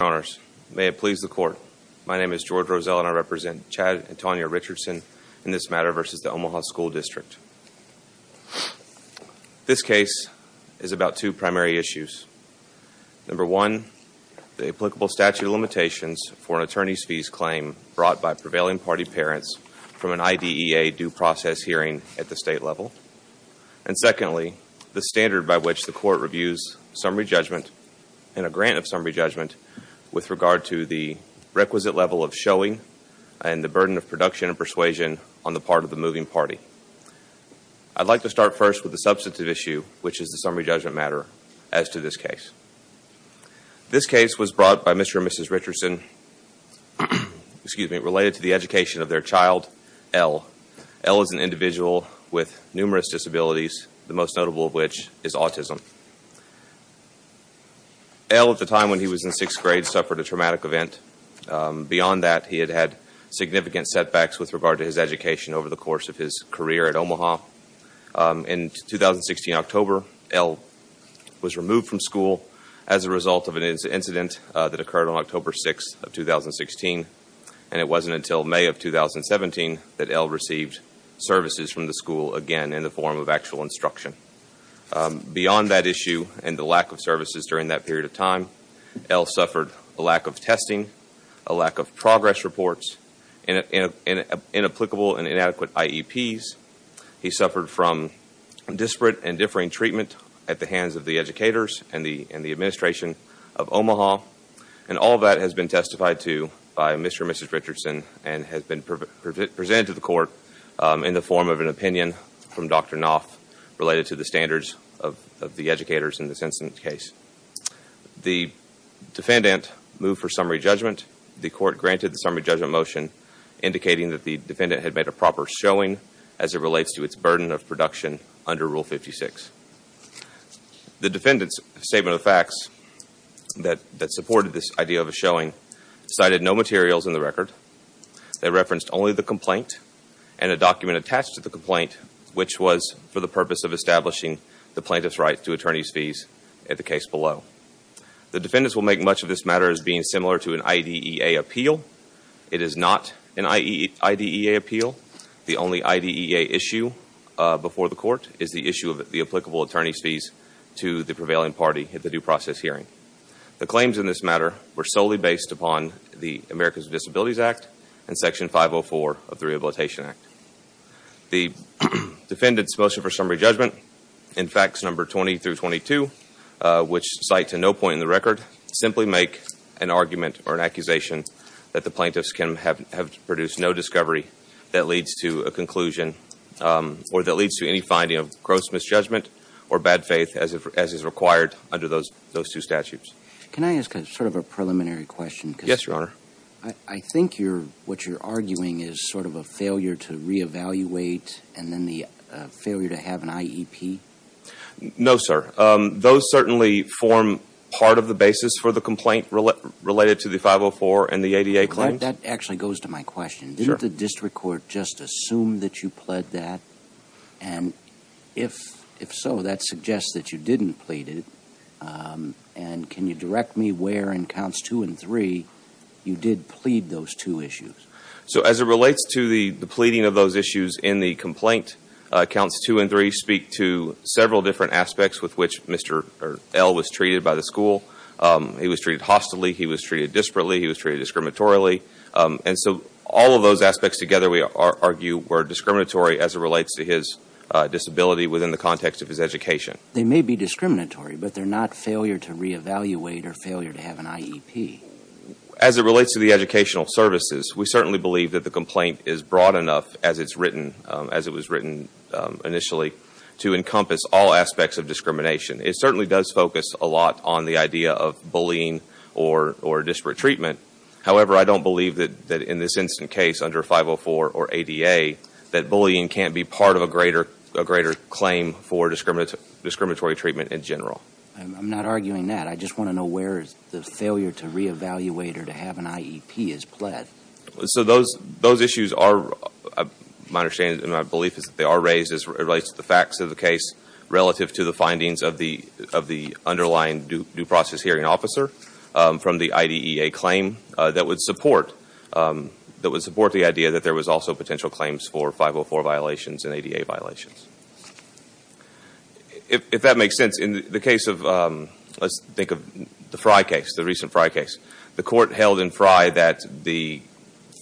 Honors, may it please the Court, my name is George Roselle and I represent Chad and Tanya Richardson in this matter versus the Omaha School District. This case is about two primary issues. Number one, the applicable statute of limitations for an attorney's fees claim brought by prevailing party parents from an IDEA due process hearing at the state level. And secondly, the standard by which the Court reviews summary judgment and a grant of summary judgment with regard to the requisite level of showing and the burden of production and persuasion on the part of the moving party. I'd like to start first with the substantive issue, which is the summary judgment matter as to this case. This case was brought by Mr. and Mrs. Richardson related to the education of their child, L. L is an individual with numerous disabilities, the most notable of which is autism. L, at the time when he was in sixth grade, suffered a traumatic event. Beyond that, he had had significant setbacks with regard to his education over the course of his career at Omaha. In 2016, October, L was removed from school as a result of an incident that occurred on October 6th of 2016, and it wasn't until May of 2017 that L received services from the school again in the form of actual instruction. Beyond that issue and the lack of services during that period of time, L suffered a lack of testing, a lack of progress reports, and inapplicable and inadequate IEPs. He suffered from disparate and differing treatment at the hands of the educators and the administration of Omaha. And all of that has been testified to by Mr. and Mrs. Richardson and has been presented to the court in the form of an opinion from Dr. Knopf related to the standards of the educators in this incident case. The defendant moved for summary judgment. The court granted the summary judgment motion indicating that the defendant had made a proper showing as it relates to its burden of production under Rule 56. The defendant's statement of facts that supported this idea of a showing cited no materials in the record. They referenced only the complaint and a document attached to the complaint which was for the purpose of establishing the plaintiff's right to attorney's fees at the case below. The defendants will make much of this matter as being similar to an IDEA appeal. It is not an IDEA appeal. The only IDEA issue before the court is the issue of the applicable attorney's fees to the prevailing party at the due process hearing. The claims in this matter were solely based upon the Americans with Disabilities Act and Section 504 of the Rehabilitation Act. The defendants motion for summary judgment in facts number 20 through 22 which cite to no point in the record simply make an argument or an accusation that the plaintiffs have produced no discovery that leads to a conclusion or that leads to any finding of gross misjudgment or bad faith as is required under those two statutes. Can I ask sort of a preliminary question? Yes, your honor. I think what you're arguing is sort of a failure to re-evaluate and then the failure to have an IEP? No, sir. Those certainly form part of the basis for the complaint related to the 504 and the ADA claims. That actually goes to my question. Sure. Did the district court just assume that you pled that? And if so, that suggests that you didn't plead it. And can you direct me where in counts two and three you did plead those two issues? So as it relates to the pleading of those issues in the complaint, counts two and three speak to several different aspects with which Mr. L was treated by the school. He was treated hostily. He was treated disparately. He was treated discriminatorily. And so all of those aspects together we argue were discriminatory as it relates to his disability within the context of his education. They may be discriminatory, but they're not failure to re-evaluate or failure to have an IEP. As it relates to the educational services, we certainly believe that the complaint is broad enough as it's written, as it was written initially, to encompass all aspects of discrimination. It certainly does focus a lot on the idea of bullying or disparate treatment. However, I don't believe that in this instant case under 504 or ADA that bullying can't be part of a greater claim for discriminatory treatment in general. I'm not arguing that. I just want to know where the failure to re-evaluate or to have an IEP is pled. So those issues are, my understanding and my belief is that they are raised as it relates to the facts of the case relative to the findings of the underlying due process hearing officer from the IDEA claim that would support the idea that there was also potential claims for 504 violations and ADA violations. If that makes sense, in the case of, let's think of the Frye case, the recent Frye case, the court held in Frye that the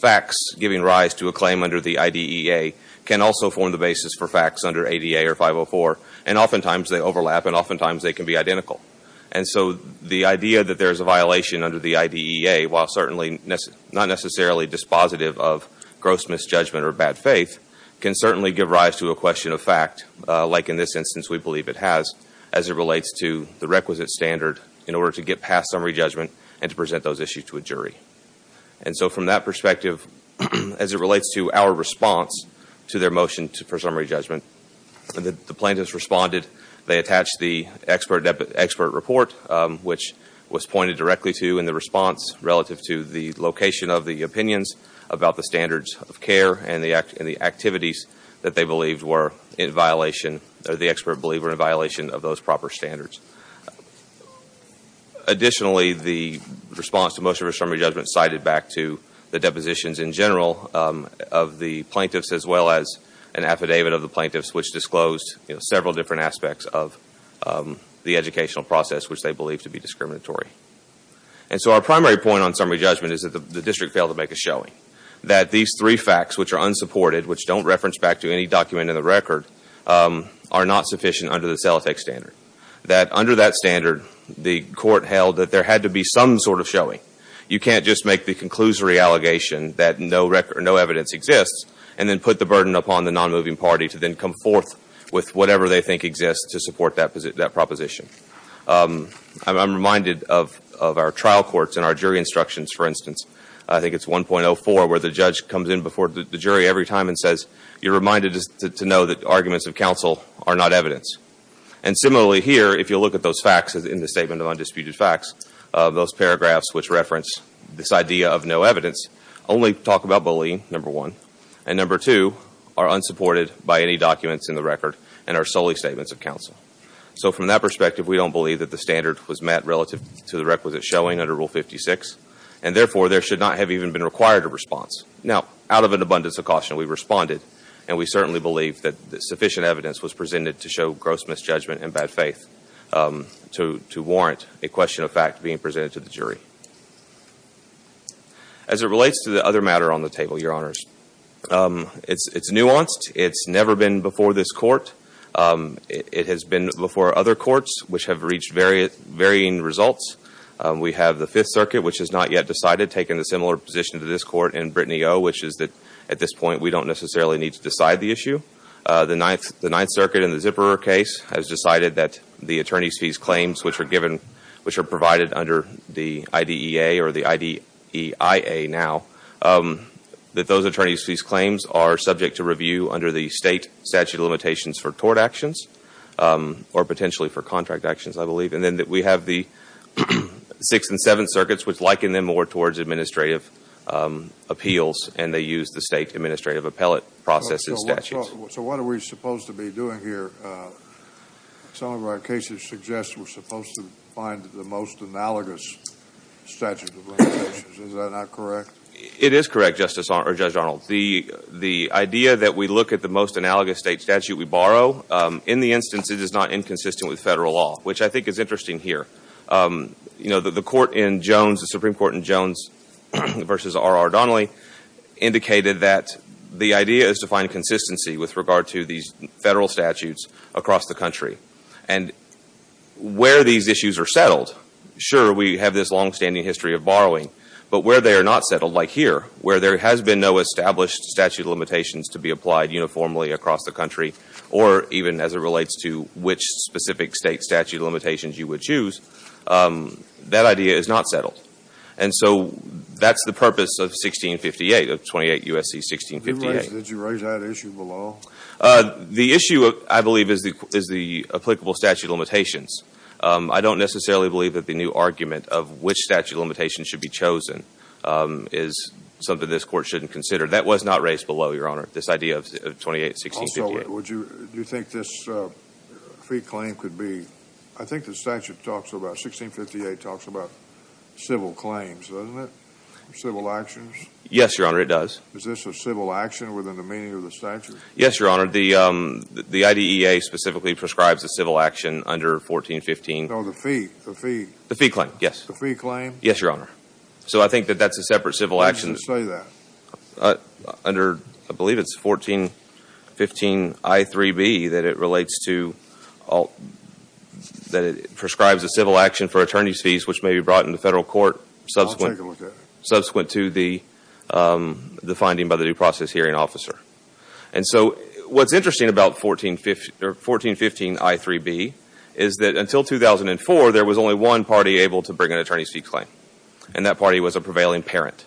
facts giving rise to a claim under the IDEA can also form the basis for facts under ADA or 504 and oftentimes they overlap and oftentimes they can be identical. And so the idea that there's a violation under the IDEA, while certainly not necessarily dispositive of gross misjudgment or bad faith, can certainly give rise to a question of fact, like in this instance we believe it has, as it relates to the requisite standard in order to get past summary judgment and to present those issues to a jury. And so from that perspective, as it relates to our response to their motion for summary report, which was pointed directly to in the response relative to the location of the opinions about the standards of care and the activities that they believed were in violation, that the expert believed were in violation of those proper standards. Additionally, the response to motion for summary judgment cited back to the depositions in general of the plaintiffs as well as an affidavit of the plaintiffs which disclosed several different aspects of the educational process which they believed to be discriminatory. And so our primary point on summary judgment is that the district failed to make a showing. That these three facts, which are unsupported, which don't reference back to any document in the record, are not sufficient under the CELOTEC standard. That under that standard, the court held that there had to be some sort of showing. You can't just make the conclusory allegation that no evidence exists and then put the burden upon the non-moving party to then come forth with whatever they think exists to support that proposition. I'm reminded of our trial courts and our jury instructions, for instance. I think it's 1.04 where the judge comes in before the jury every time and says, you're reminded to know that arguments of counsel are not evidence. And similarly here, if you look at those facts in the Statement of Undisputed Facts, those paragraphs which reference this idea of no evidence, only talk about bullying, number one. And number two, are unsupported by any documents in the record and are solely statements of counsel. So from that perspective, we don't believe that the standard was met relative to the requisite showing under Rule 56. And therefore, there should not have even been required a response. Now, out of an abundance of caution, we responded. And we certainly believe that sufficient evidence was presented to show gross misjudgment and bad faith to warrant a question of fact being presented to the jury. As it relates to the other matter on the table, Your Honors, it's nuanced. It's never been before this court. It has been before other courts which have reached varying results. We have the Fifth Circuit, which has not yet decided, taken a similar position to this court in Brittany O., which is that at this point, we don't necessarily need to decide the issue. The Ninth Circuit in the Zipperer case has decided that the attorney's fees claims which are provided under the IDEA or the IDEIA now, that those attorney's fees claims are subject to review under the state statute of limitations for tort actions or potentially for contract actions, I believe. And then we have the Sixth and Seventh Circuits, which liken them more towards administrative appeals and they use the state administrative appellate process and statutes. So what are we supposed to be doing here? Some of our cases suggest we're supposed to find the most analogous statute of limitations. Is that not correct? It is correct, Judge Arnold. The idea that we look at the most analogous state statute we borrow, in the instance it is not inconsistent with federal law, which I think is interesting here. You know, the Supreme Court in Jones v. R. R. Donnelly indicated that the idea is to across the country. And where these issues are settled, sure, we have this longstanding history of borrowing. But where they are not settled, like here, where there has been no established statute of limitations to be applied uniformly across the country or even as it relates to which specific state statute of limitations you would choose, that idea is not settled. And so that's the purpose of 1658, of 28 U.S.C. 1658. Did you raise that issue below? The issue, I believe, is the applicable statute of limitations. I don't necessarily believe that the new argument of which statute of limitations should be chosen is something this Court shouldn't consider. That was not raised below, Your Honor, this idea of 28 U.S.C. 1658. Also, would you think this free claim could be, I think the statute talks about, 1658 talks about civil claims, doesn't it? Civil actions? Yes, Your Honor, it does. Is this a civil action within the meaning of the statute? Yes, Your Honor. The IDEA specifically prescribes a civil action under 1415. No, the fee. The fee. The fee claim, yes. The fee claim? Yes, Your Honor. So I think that that's a separate civil action. Why did you say that? Under, I believe it's 1415 I3B that it relates to, that it prescribes a civil action for attorney's fees which may be brought into federal court subsequent to the finding by the due process hearing officer. And so what's interesting about 1415 I3B is that until 2004, there was only one party able to bring an attorney's fee claim, and that party was a prevailing parent.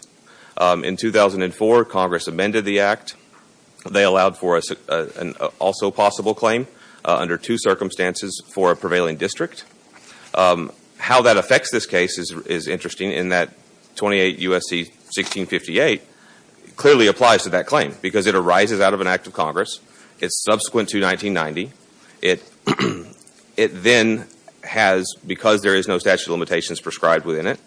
In 2004, Congress amended the Act. They allowed for an also possible claim under two circumstances for a prevailing district. How that affects this case is interesting in that 28 U.S.C. 1658 clearly applies to that claim because it arises out of an act of Congress. It's subsequent to 1990. It then has, because there is no statute of limitations prescribed within it,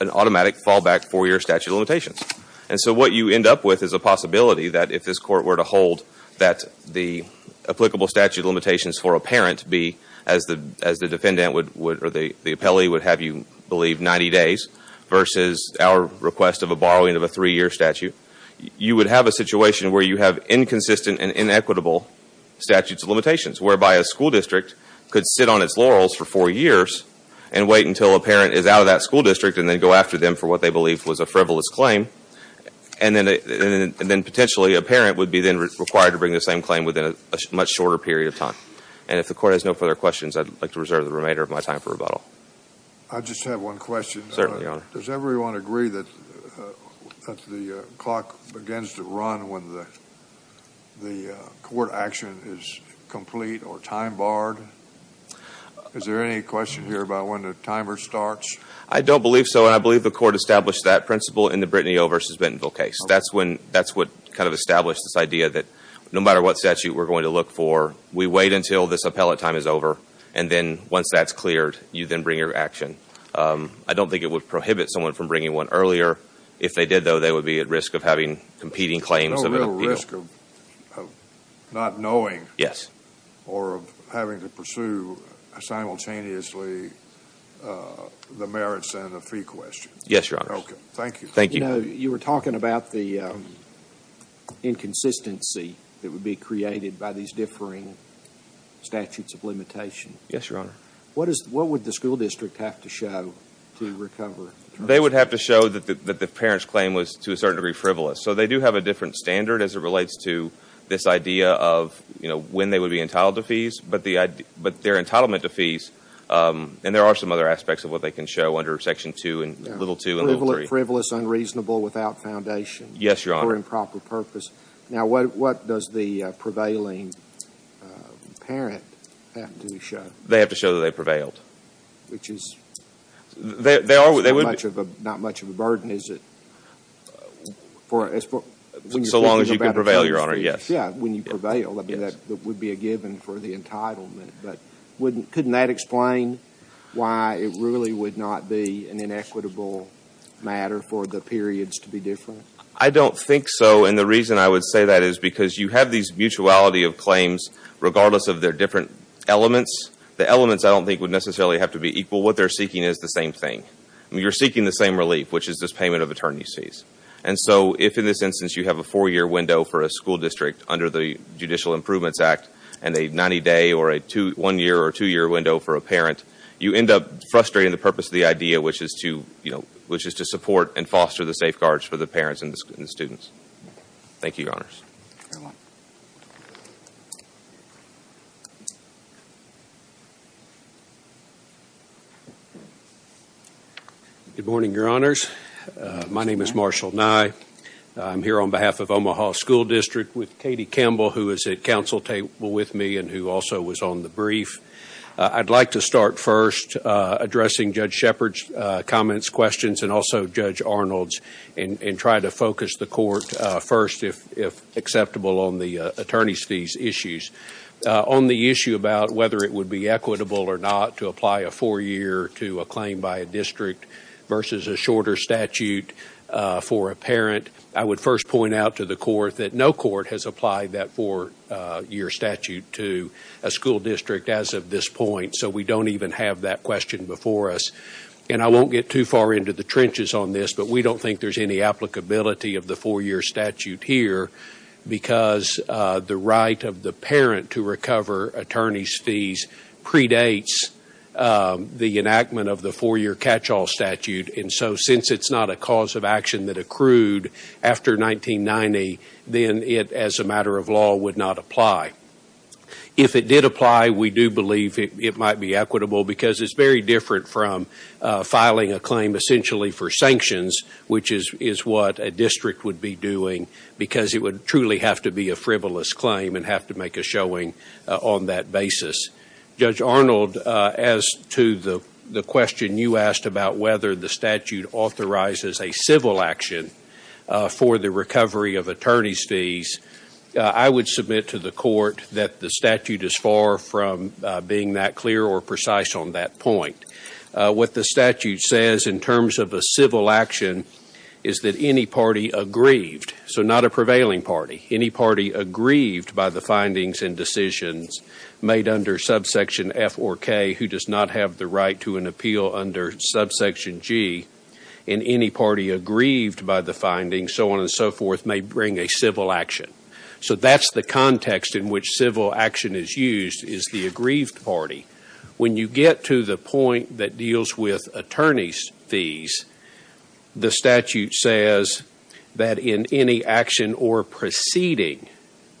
an automatic fallback four-year statute of limitations. And so what you end up with is a possibility that if this court were to hold that the applicable statute of limitations for a parent be as the defendant would, or the appellee would have you believe 90 days versus our request of a borrowing of a three-year statute, you would have a situation where you have inconsistent and inequitable statutes of limitations whereby a school district could sit on its laurels for four years and wait until a parent is out of that school district and then go after them for what they believe was a frivolous claim, and then potentially a parent would be then required to bring the same claim within a much shorter period of time. And if the court has no further questions, I'd like to reserve the remainder of my time I just have one question. Certainly, Your Honor. Does everyone agree that the clock begins to run when the court action is complete or time-barred? Is there any question here about when the timer starts? I don't believe so, and I believe the court established that principle in the Brittany O. v. Bentonville case. That's what kind of established this idea that no matter what statute we're going to look for, we wait until this appellate time is over, and then once that's cleared, you then bring your action. I don't think it would prohibit someone from bringing one earlier. If they did, though, they would be at risk of having competing claims of an appeal. No real risk of not knowing or of having to pursue simultaneously the merits and the fee question. Yes, Your Honor. Okay. Thank you. Thank you. You were talking about the inconsistency that would be created by these differing statutes of limitation. Yes, Your Honor. What would the school district have to show to recover? They would have to show that the parent's claim was to a certain degree frivolous. So they do have a different standard as it relates to this idea of, you know, when they would be entitled to fees, but their entitlement to fees, and there are some other aspects of what they can show under Section 2 and little 2 and little 3. Frivolous, unreasonable, without foundation. Yes, Your Honor. For improper purpose. Now, what does the prevailing parent have to show? They have to show that they prevailed. Which is not much of a burden, is it? So long as you can prevail, Your Honor, yes. Yeah, when you prevail, I mean, that would be a given for the entitlement, but couldn't that explain why it really would not be an inequitable matter for the periods to be different? I don't think so, and the reason I would say that is because you have these mutuality of The elements I don't think would necessarily have to be equal. What they're seeking is the same thing. You're seeking the same relief, which is this payment of attorney's fees. And so, if in this instance you have a four-year window for a school district under the Judicial Improvements Act and a 90-day or a one-year or two-year window for a parent, you end up frustrating the purpose of the idea, which is to, you know, which is to support and foster the safeguards for the parents and the students. Thank you, Your Honors. Good morning, Your Honors. My name is Marshall Nye. I'm here on behalf of Omaha School District with Katie Campbell, who is at counsel table with me and who also was on the brief. I'd like to start first addressing Judge Shepard's comments, questions, and also Judge Arnold's and try to focus the court first, if acceptable, on the attorney's fees issues. On the issue about whether it would be equitable or not to apply a four-year to a claim by a district versus a shorter statute for a parent, I would first point out to the court that no court has applied that four-year statute to a school district as of this point, so we don't even have that question before us. And I won't get too far into the trenches on this, but we don't think there's any applicability of the four-year statute here because the right of the parent to recover attorney's fees predates the enactment of the four-year catch-all statute, and so since it's not a cause of action that accrued after 1990, then it, as a matter of law, would not apply. If it did apply, we do believe it might be equitable because it's very different from filing a claim essentially for sanctions, which is what a district would be doing because it would truly have to be a frivolous claim and have to make a showing on that basis. Judge Arnold, as to the question you asked about whether the statute authorizes a civil action for the recovery of attorney's fees, I would submit to the court that the statute is far from being that clear or precise on that point. What the statute says in terms of a civil action is that any party aggrieved, so not a prevailing party, any party aggrieved by the findings and decisions made under subsection F or K who does not have the right to an appeal under subsection G, and any party aggrieved by the findings, so on and so forth, may bring a civil action. So that's the context in which civil action is used is the aggrieved party. When you get to the point that deals with attorney's fees, the statute says that in any action or proceeding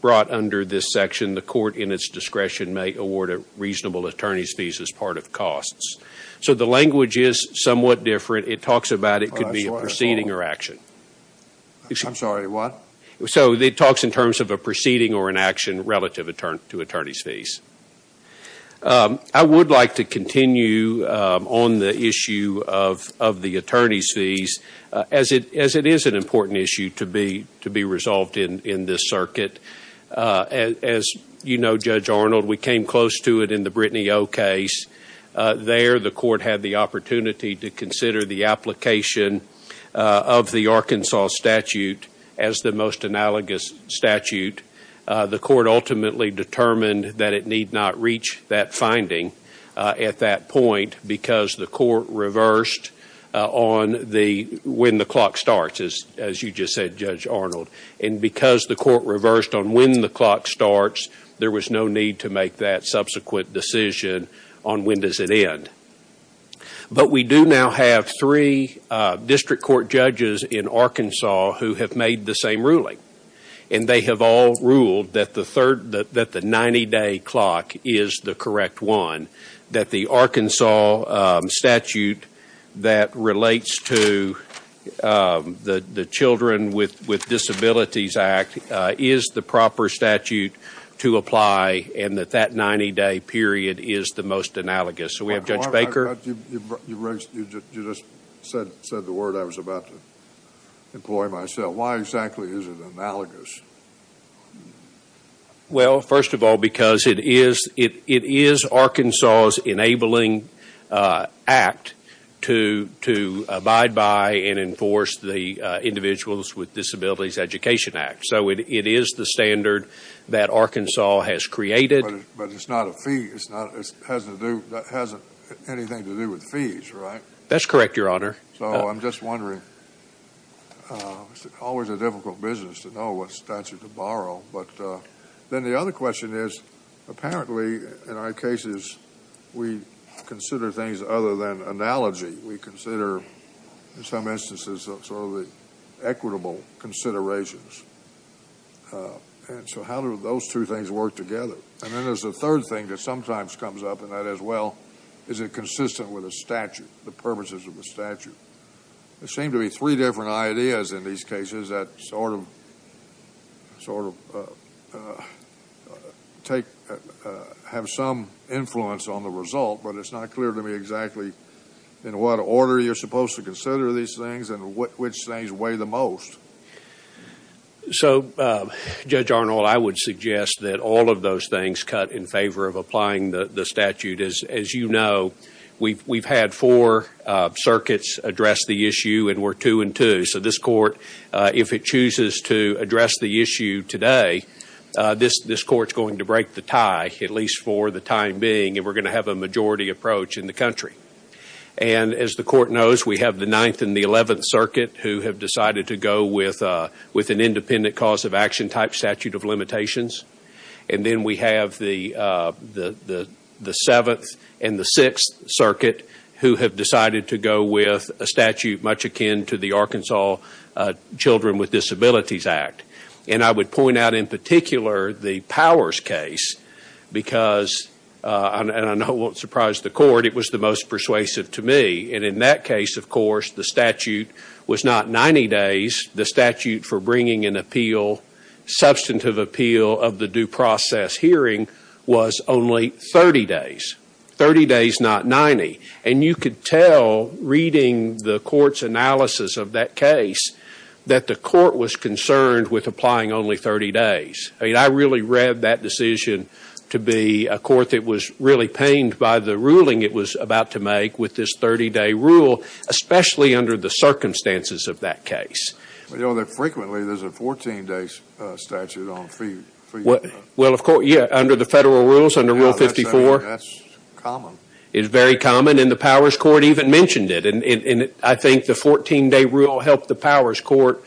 brought under this section, the court in its discretion may award reasonable attorney's fees as part of costs. So the language is somewhat different. It talks about it could be a proceeding or action. I'm sorry, what? So it talks in terms of a proceeding or an action relative to attorney's fees. I would like to continue on the issue of the attorney's fees as it is an important issue to be resolved in this circuit. As you know, Judge Arnold, we came close to it in the Brittany O case. There, the court had the opportunity to consider the application of the Arkansas statute as the most analogous statute. The court ultimately determined that it need not reach that finding at that point because the court reversed on the when the clock starts, as you just said, Judge Arnold. And because the court reversed on when the clock starts, there was no need to make that subsequent decision on when does it end. But we do now have three district court judges in Arkansas who have made the same ruling. And they have all ruled that the 90-day clock is the correct one. That the Arkansas statute that relates to the Children with Disabilities Act is the proper statute to apply and that that 90-day period is the most analogous. So we have Judge Baker. You just said the word I was about to employ myself. Why exactly is it analogous? Well, first of all, because it is it is Arkansas's enabling act to to abide by and enforce the Individuals with Disabilities Education Act. So it is the standard that Arkansas has created. But it's not a fee. It's not it has to do that hasn't anything to do with fees, right? That's correct, Your Honor. So I'm just wondering, it's always a difficult business to know what statute to borrow. But then the other question is, apparently, in our cases, we consider things other than analogy. We consider, in some instances, sort of the equitable considerations. And so how do those two things work together? And then there's a third thing that sometimes comes up. And that is, well, is it consistent with a statute, the purposes of the statute? There seem to be three different ideas in these cases that sort of sort of take have some influence on the result. But it's not clear to me exactly in what order you're supposed to consider these things and which things weigh the most. So, Judge Arnold, I would suggest that all of those things cut in favor of applying the statute. As you know, we've had four circuits address the issue, and we're two and two. So this Court, if it chooses to address the issue today, this Court's going to break the tie, at least for the time being. And we're going to have a majority approach in the country. And as the Court knows, we have the Ninth and the Eleventh Circuit who have decided to go with an independent cause of action type statute of limitations. And then we have the Seventh and the Sixth Circuit who have decided to go with a statute much akin to the Arkansas Children with Disabilities Act. And I would point out in particular the Powers case because, and I know it won't surprise the Court, it was the most persuasive to me. And in that case, of course, the statute was not 90 days. The statute for bringing an appeal, substantive appeal of the due process hearing was only 30 days. 30 days, not 90. And you could tell reading the Court's analysis of that case that the Court was concerned with applying only 30 days. I mean, I really read that decision to be a Court that was really pained by the ruling it was about to make with this 30-day rule, especially under the circumstances of that case. But, you know, frequently there's a 14-day statute on a fee. Well, of course, yeah, under the federal rules, under Rule 54. Yeah, that's common. It's very common, and the Powers Court even mentioned it. And I think the 14-day rule helped the Powers Court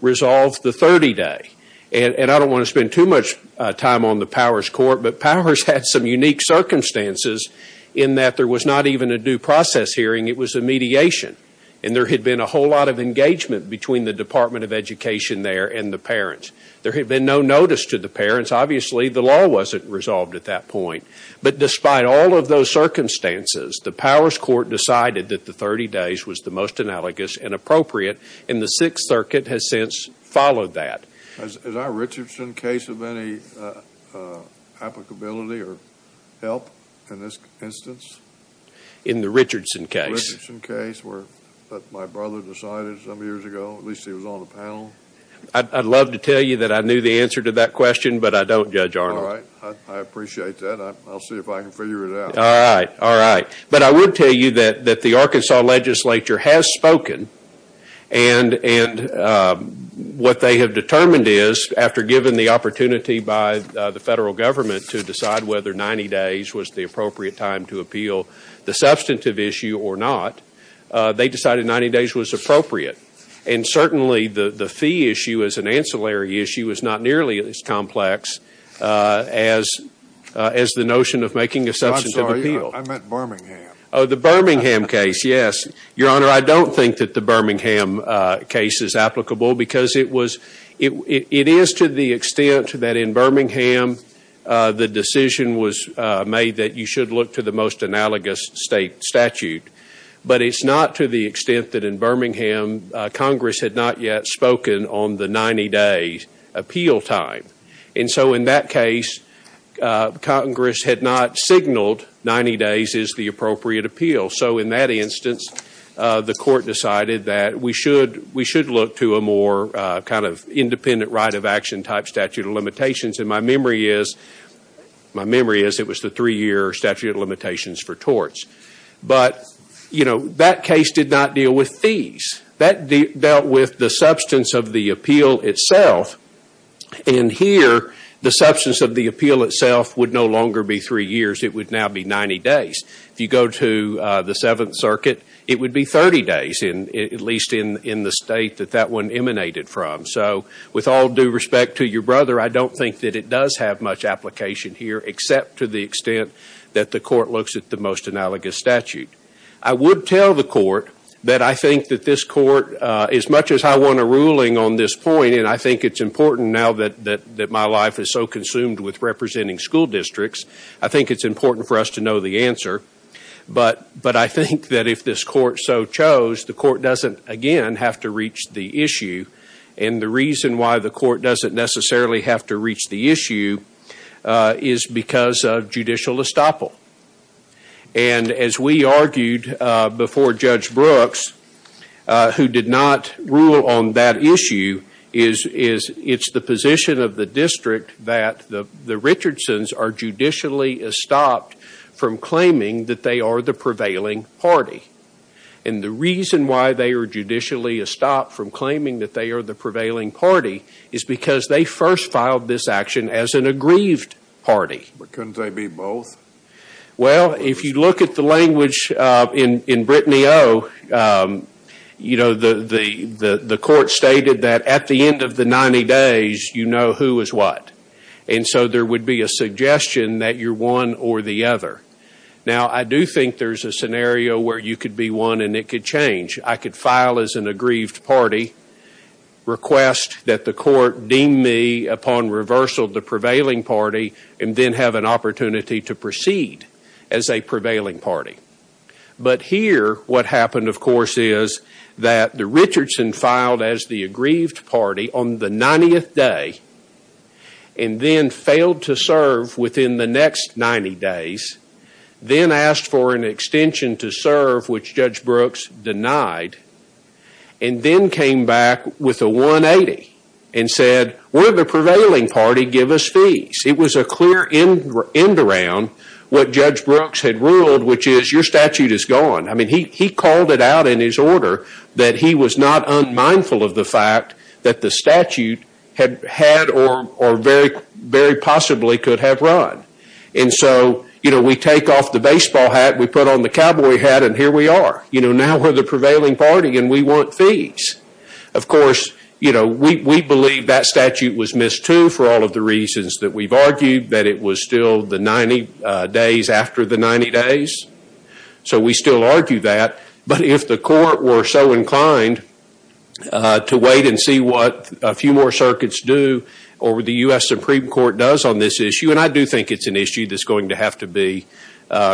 resolve the 30-day. And I don't want to spend too much time on the Powers Court, but Powers had some unique circumstances in that there was not even a due process hearing, it was a mediation. And there had been a whole lot of engagement between the Department of Education there and the parents. There had been no notice to the parents. Obviously, the law wasn't resolved at that point. But despite all of those circumstances, the Powers Court decided that the 30 days was the most analogous and appropriate, and the Sixth Circuit has since followed that. Is our Richardson case of any applicability or help in this instance? In the Richardson case? In the Richardson case where my brother decided some years ago, at least he was on the panel. I'd love to tell you that I knew the answer to that question, but I don't, Judge Arnold. All right. I appreciate that. I'll see if I can figure it out. All right. All right. But I would tell you that the Arkansas legislature has spoken, and what they have determined is after giving the opportunity by the federal government to decide whether 90 days was the or not, they decided 90 days was appropriate. And certainly, the fee issue as an ancillary issue is not nearly as complex as the notion of making a substantive appeal. I'm sorry. I meant Birmingham. Oh, the Birmingham case. Yes. Your Honor, I don't think that the Birmingham case is applicable because it is to the extent that in Birmingham the decision was made that you should look to the most analogous state statute, but it's not to the extent that in Birmingham Congress had not yet spoken on the 90-day appeal time. And so in that case, Congress had not signaled 90 days is the appropriate appeal. So in that instance, the court decided that we should look to a more kind of independent right of action type statute of limitations, and my memory is it was the three-year statute of limitations for torts. But that case did not deal with fees. That dealt with the substance of the appeal itself, and here the substance of the appeal itself would no longer be three years. It would now be 90 days. If you go to the Seventh Circuit, it would be 30 days, at least in the state that that one emanated from. So with all due respect to your brother, I don't think that it does have much application here except to the extent that the court looks at the most analogous statute. I would tell the court that I think that this court, as much as I won a ruling on this point, and I think it's important now that my life is so consumed with representing school districts, I think it's important for us to know the answer. But I think that if this court so chose, the court doesn't, again, have to reach the issue. And the reason why the court doesn't necessarily have to reach the issue is because of judicial estoppel. And as we argued before Judge Brooks, who did not rule on that issue, is it's the position of the district that the Richardsons are judicially estopped from claiming that they are the prevailing party. And the reason why they are judicially estopped from claiming that they are the prevailing party is because they first filed this action as an aggrieved party. But couldn't they be both? Well, if you look at the language in Brittany O., you know, the court stated that at the end of the 90 days, you know who is what. And so there would be a suggestion that you're one or the other. Now, I do think there's a scenario where you could be one and it could change. I could file as an aggrieved party, request that the court deem me upon reversal the prevailing party, and then have an opportunity to proceed as a prevailing party. But here, what happened, of course, is that the Richardson filed as the aggrieved party on the 90th day and then failed to serve within the next 90 days, then asked for an extension to serve, which Judge Brooks denied, and then came back with a 180 and said, we're the prevailing party, give us fees. It was a clear end around what Judge Brooks had ruled, which is your statute is gone. I mean, he called it out in his order that he was not unmindful of the fact that the statute had or very possibly could have run. And so, you know, we take off the baseball hat, we put on the cowboy hat, and here we are. You know, now we're the prevailing party and we want fees. Of course, you know, we believe that statute was missed too for all of the reasons that we've argued, that it was still the 90 days after the 90 days. So we still argue that, but if the court were so inclined to wait and see what a few more circuits do or what the U.S. Supreme Court does on this issue, and I do think it's an issue that's going to have to be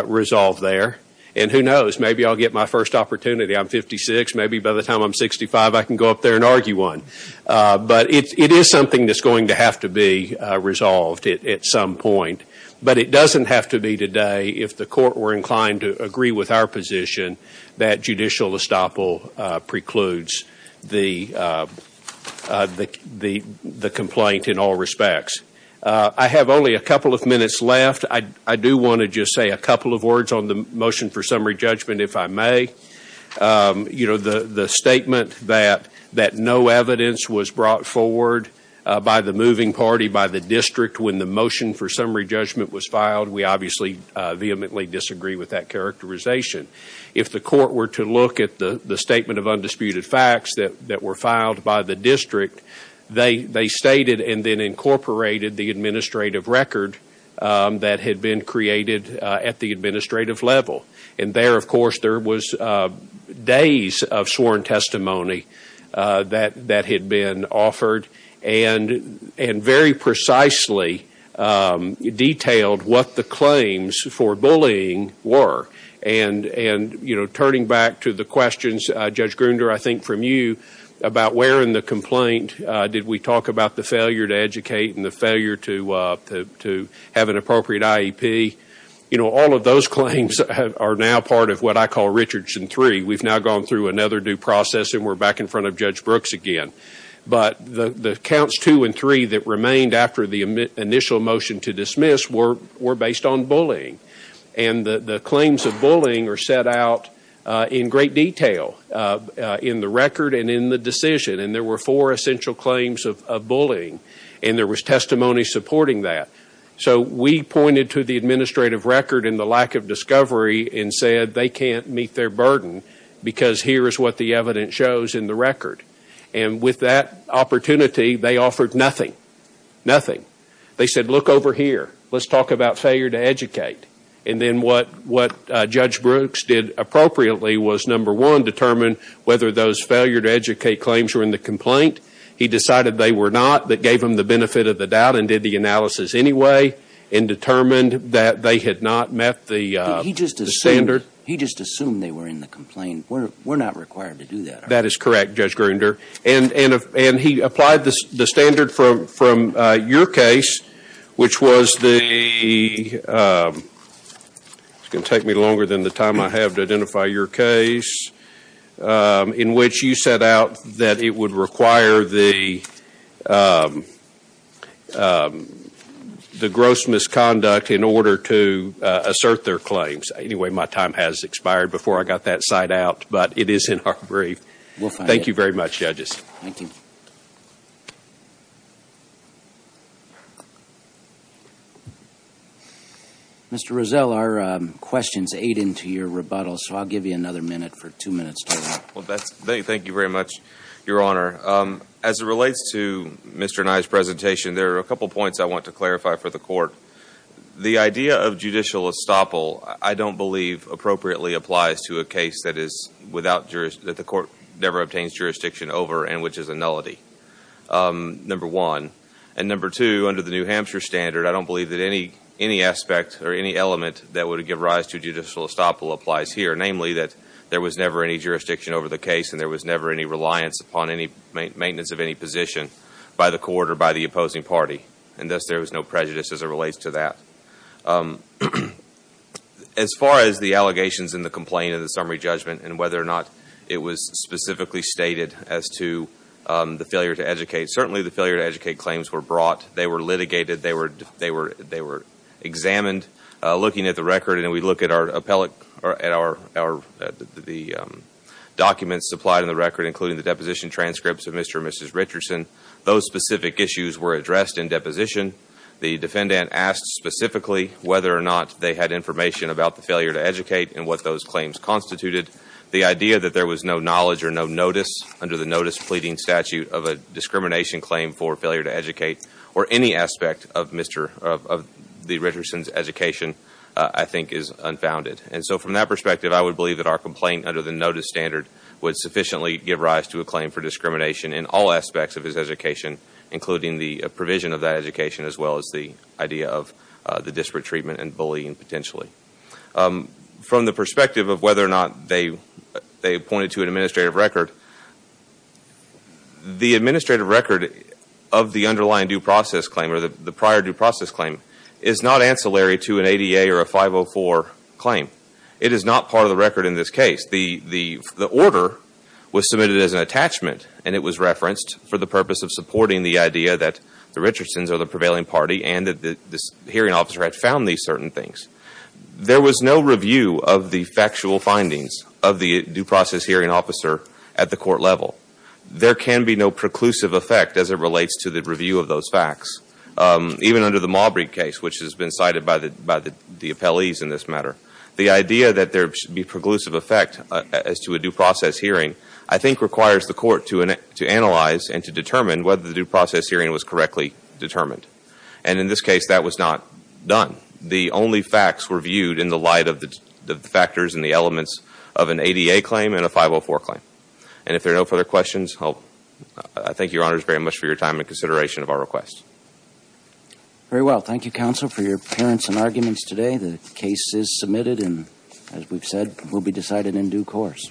resolved there, and who knows, maybe I'll get my first opportunity. I'm 56. Maybe by the time I'm 65, I can go up there and argue one. But it is something that's going to have to be resolved at some point. But it doesn't have to be today if the court were inclined to agree with our position that judicial estoppel precludes the complaint in all respects. I have only a couple of minutes left. I do want to just say a couple of words on the motion for summary judgment, if I may. You know, the statement that no evidence was brought forward by the moving party, by the time the judgment was filed, we obviously vehemently disagree with that characterization. If the court were to look at the statement of undisputed facts that were filed by the district, they stated and then incorporated the administrative record that had been created at the administrative level. And there, of course, there was days of sworn testimony that had been offered, and very precisely detailed what the claims for bullying were. And, you know, turning back to the questions, Judge Grunder, I think from you about where in the complaint did we talk about the failure to educate and the failure to have an appropriate IEP, you know, all of those claims are now part of what I call Richardson 3. We've now gone through another due process, and we're back in front of Judge Brooks again. But the counts two and three that remained after the initial motion to dismiss were based on bullying, and the claims of bullying are set out in great detail in the record and in the decision, and there were four essential claims of bullying, and there was testimony supporting that. So we pointed to the administrative record and the lack of discovery and said they can't meet their burden because here is what the evidence shows in the record. And with that opportunity, they offered nothing, nothing. They said, look over here, let's talk about failure to educate. And then what Judge Brooks did appropriately was, number one, determine whether those failure to educate claims were in the complaint. He decided they were not. That gave him the benefit of the doubt and did the analysis anyway and determined that they had not met the standard. He just assumed they were in the complaint. We're not required to do that, are we? That is correct, Judge Grunder. And he applied the standard from your case, which was the – it's going to take me longer than the time I have to identify your case – in which you set out that it would require the gross misconduct in order to assert their claims. Anyway, my time has expired before I got that side out, but it is in our brief. Thank you very much, judges. Mr. Rozell, our questions aid into your rebuttal, so I'll give you another minute for two minutes total. Thank you very much, Your Honor. As it relates to Mr. Nye's presentation, there are a couple points I want to clarify for the court. The idea of judicial estoppel, I don't believe, appropriately applies to a case that is without – that the court never obtains jurisdiction over and which is a nullity, number one. And number two, under the New Hampshire standard, I don't believe that any aspect or any element that would give rise to judicial estoppel applies here, namely that there was never any jurisdiction over the case and there was never any reliance upon any maintenance of any position by the court or by the opposing party, and thus there was no prejudice as it relates to that. As far as the allegations in the complaint and the summary judgment and whether or not it was specifically stated as to the failure to educate, certainly the failure to educate claims were brought. They were litigated. They were examined. Looking at the record and we look at our – the documents supplied in the record, including the deposition transcripts of Mr. and Mrs. Richardson, those specific issues were addressed in deposition. The defendant asked specifically whether or not they had information about the failure to educate and what those claims constituted. The idea that there was no knowledge or no notice under the notice pleading statute of a discrimination claim for failure to educate or any aspect of Mr. – of the Richardson's education I think is unfounded. And so from that perspective, I would believe that our complaint under the notice standard would sufficiently give rise to a claim for discrimination in all aspects of his education, including the provision of that education as well as the idea of the disparate treatment and bullying potentially. From the perspective of whether or not they pointed to an administrative record, the administrative record of the underlying due process claim or the prior due process claim is not ancillary to an ADA or a 504 claim. It is not part of the record in this case. The order was submitted as an attachment and it was referenced for the purpose of supporting the idea that the Richardsons are the prevailing party and that the hearing officer had found these certain things. There was no review of the factual findings of the due process hearing officer at the court level. There can be no preclusive effect as it relates to the review of those facts. Even under the Maubry case, which has been cited by the appellees in this matter, the idea that there should be preclusive effect as to a due process hearing I think requires the court to analyze and to determine whether the due process hearing was correctly determined. And in this case, that was not done. The only facts were viewed in the light of the factors and the elements of an ADA claim and a 504 claim. And if there are no further questions, I thank your honors very much for your time and consideration of our request. Very well. Thank you, counsel, for your appearance and arguments today. The case is submitted and, as we've said, will be decided in due course.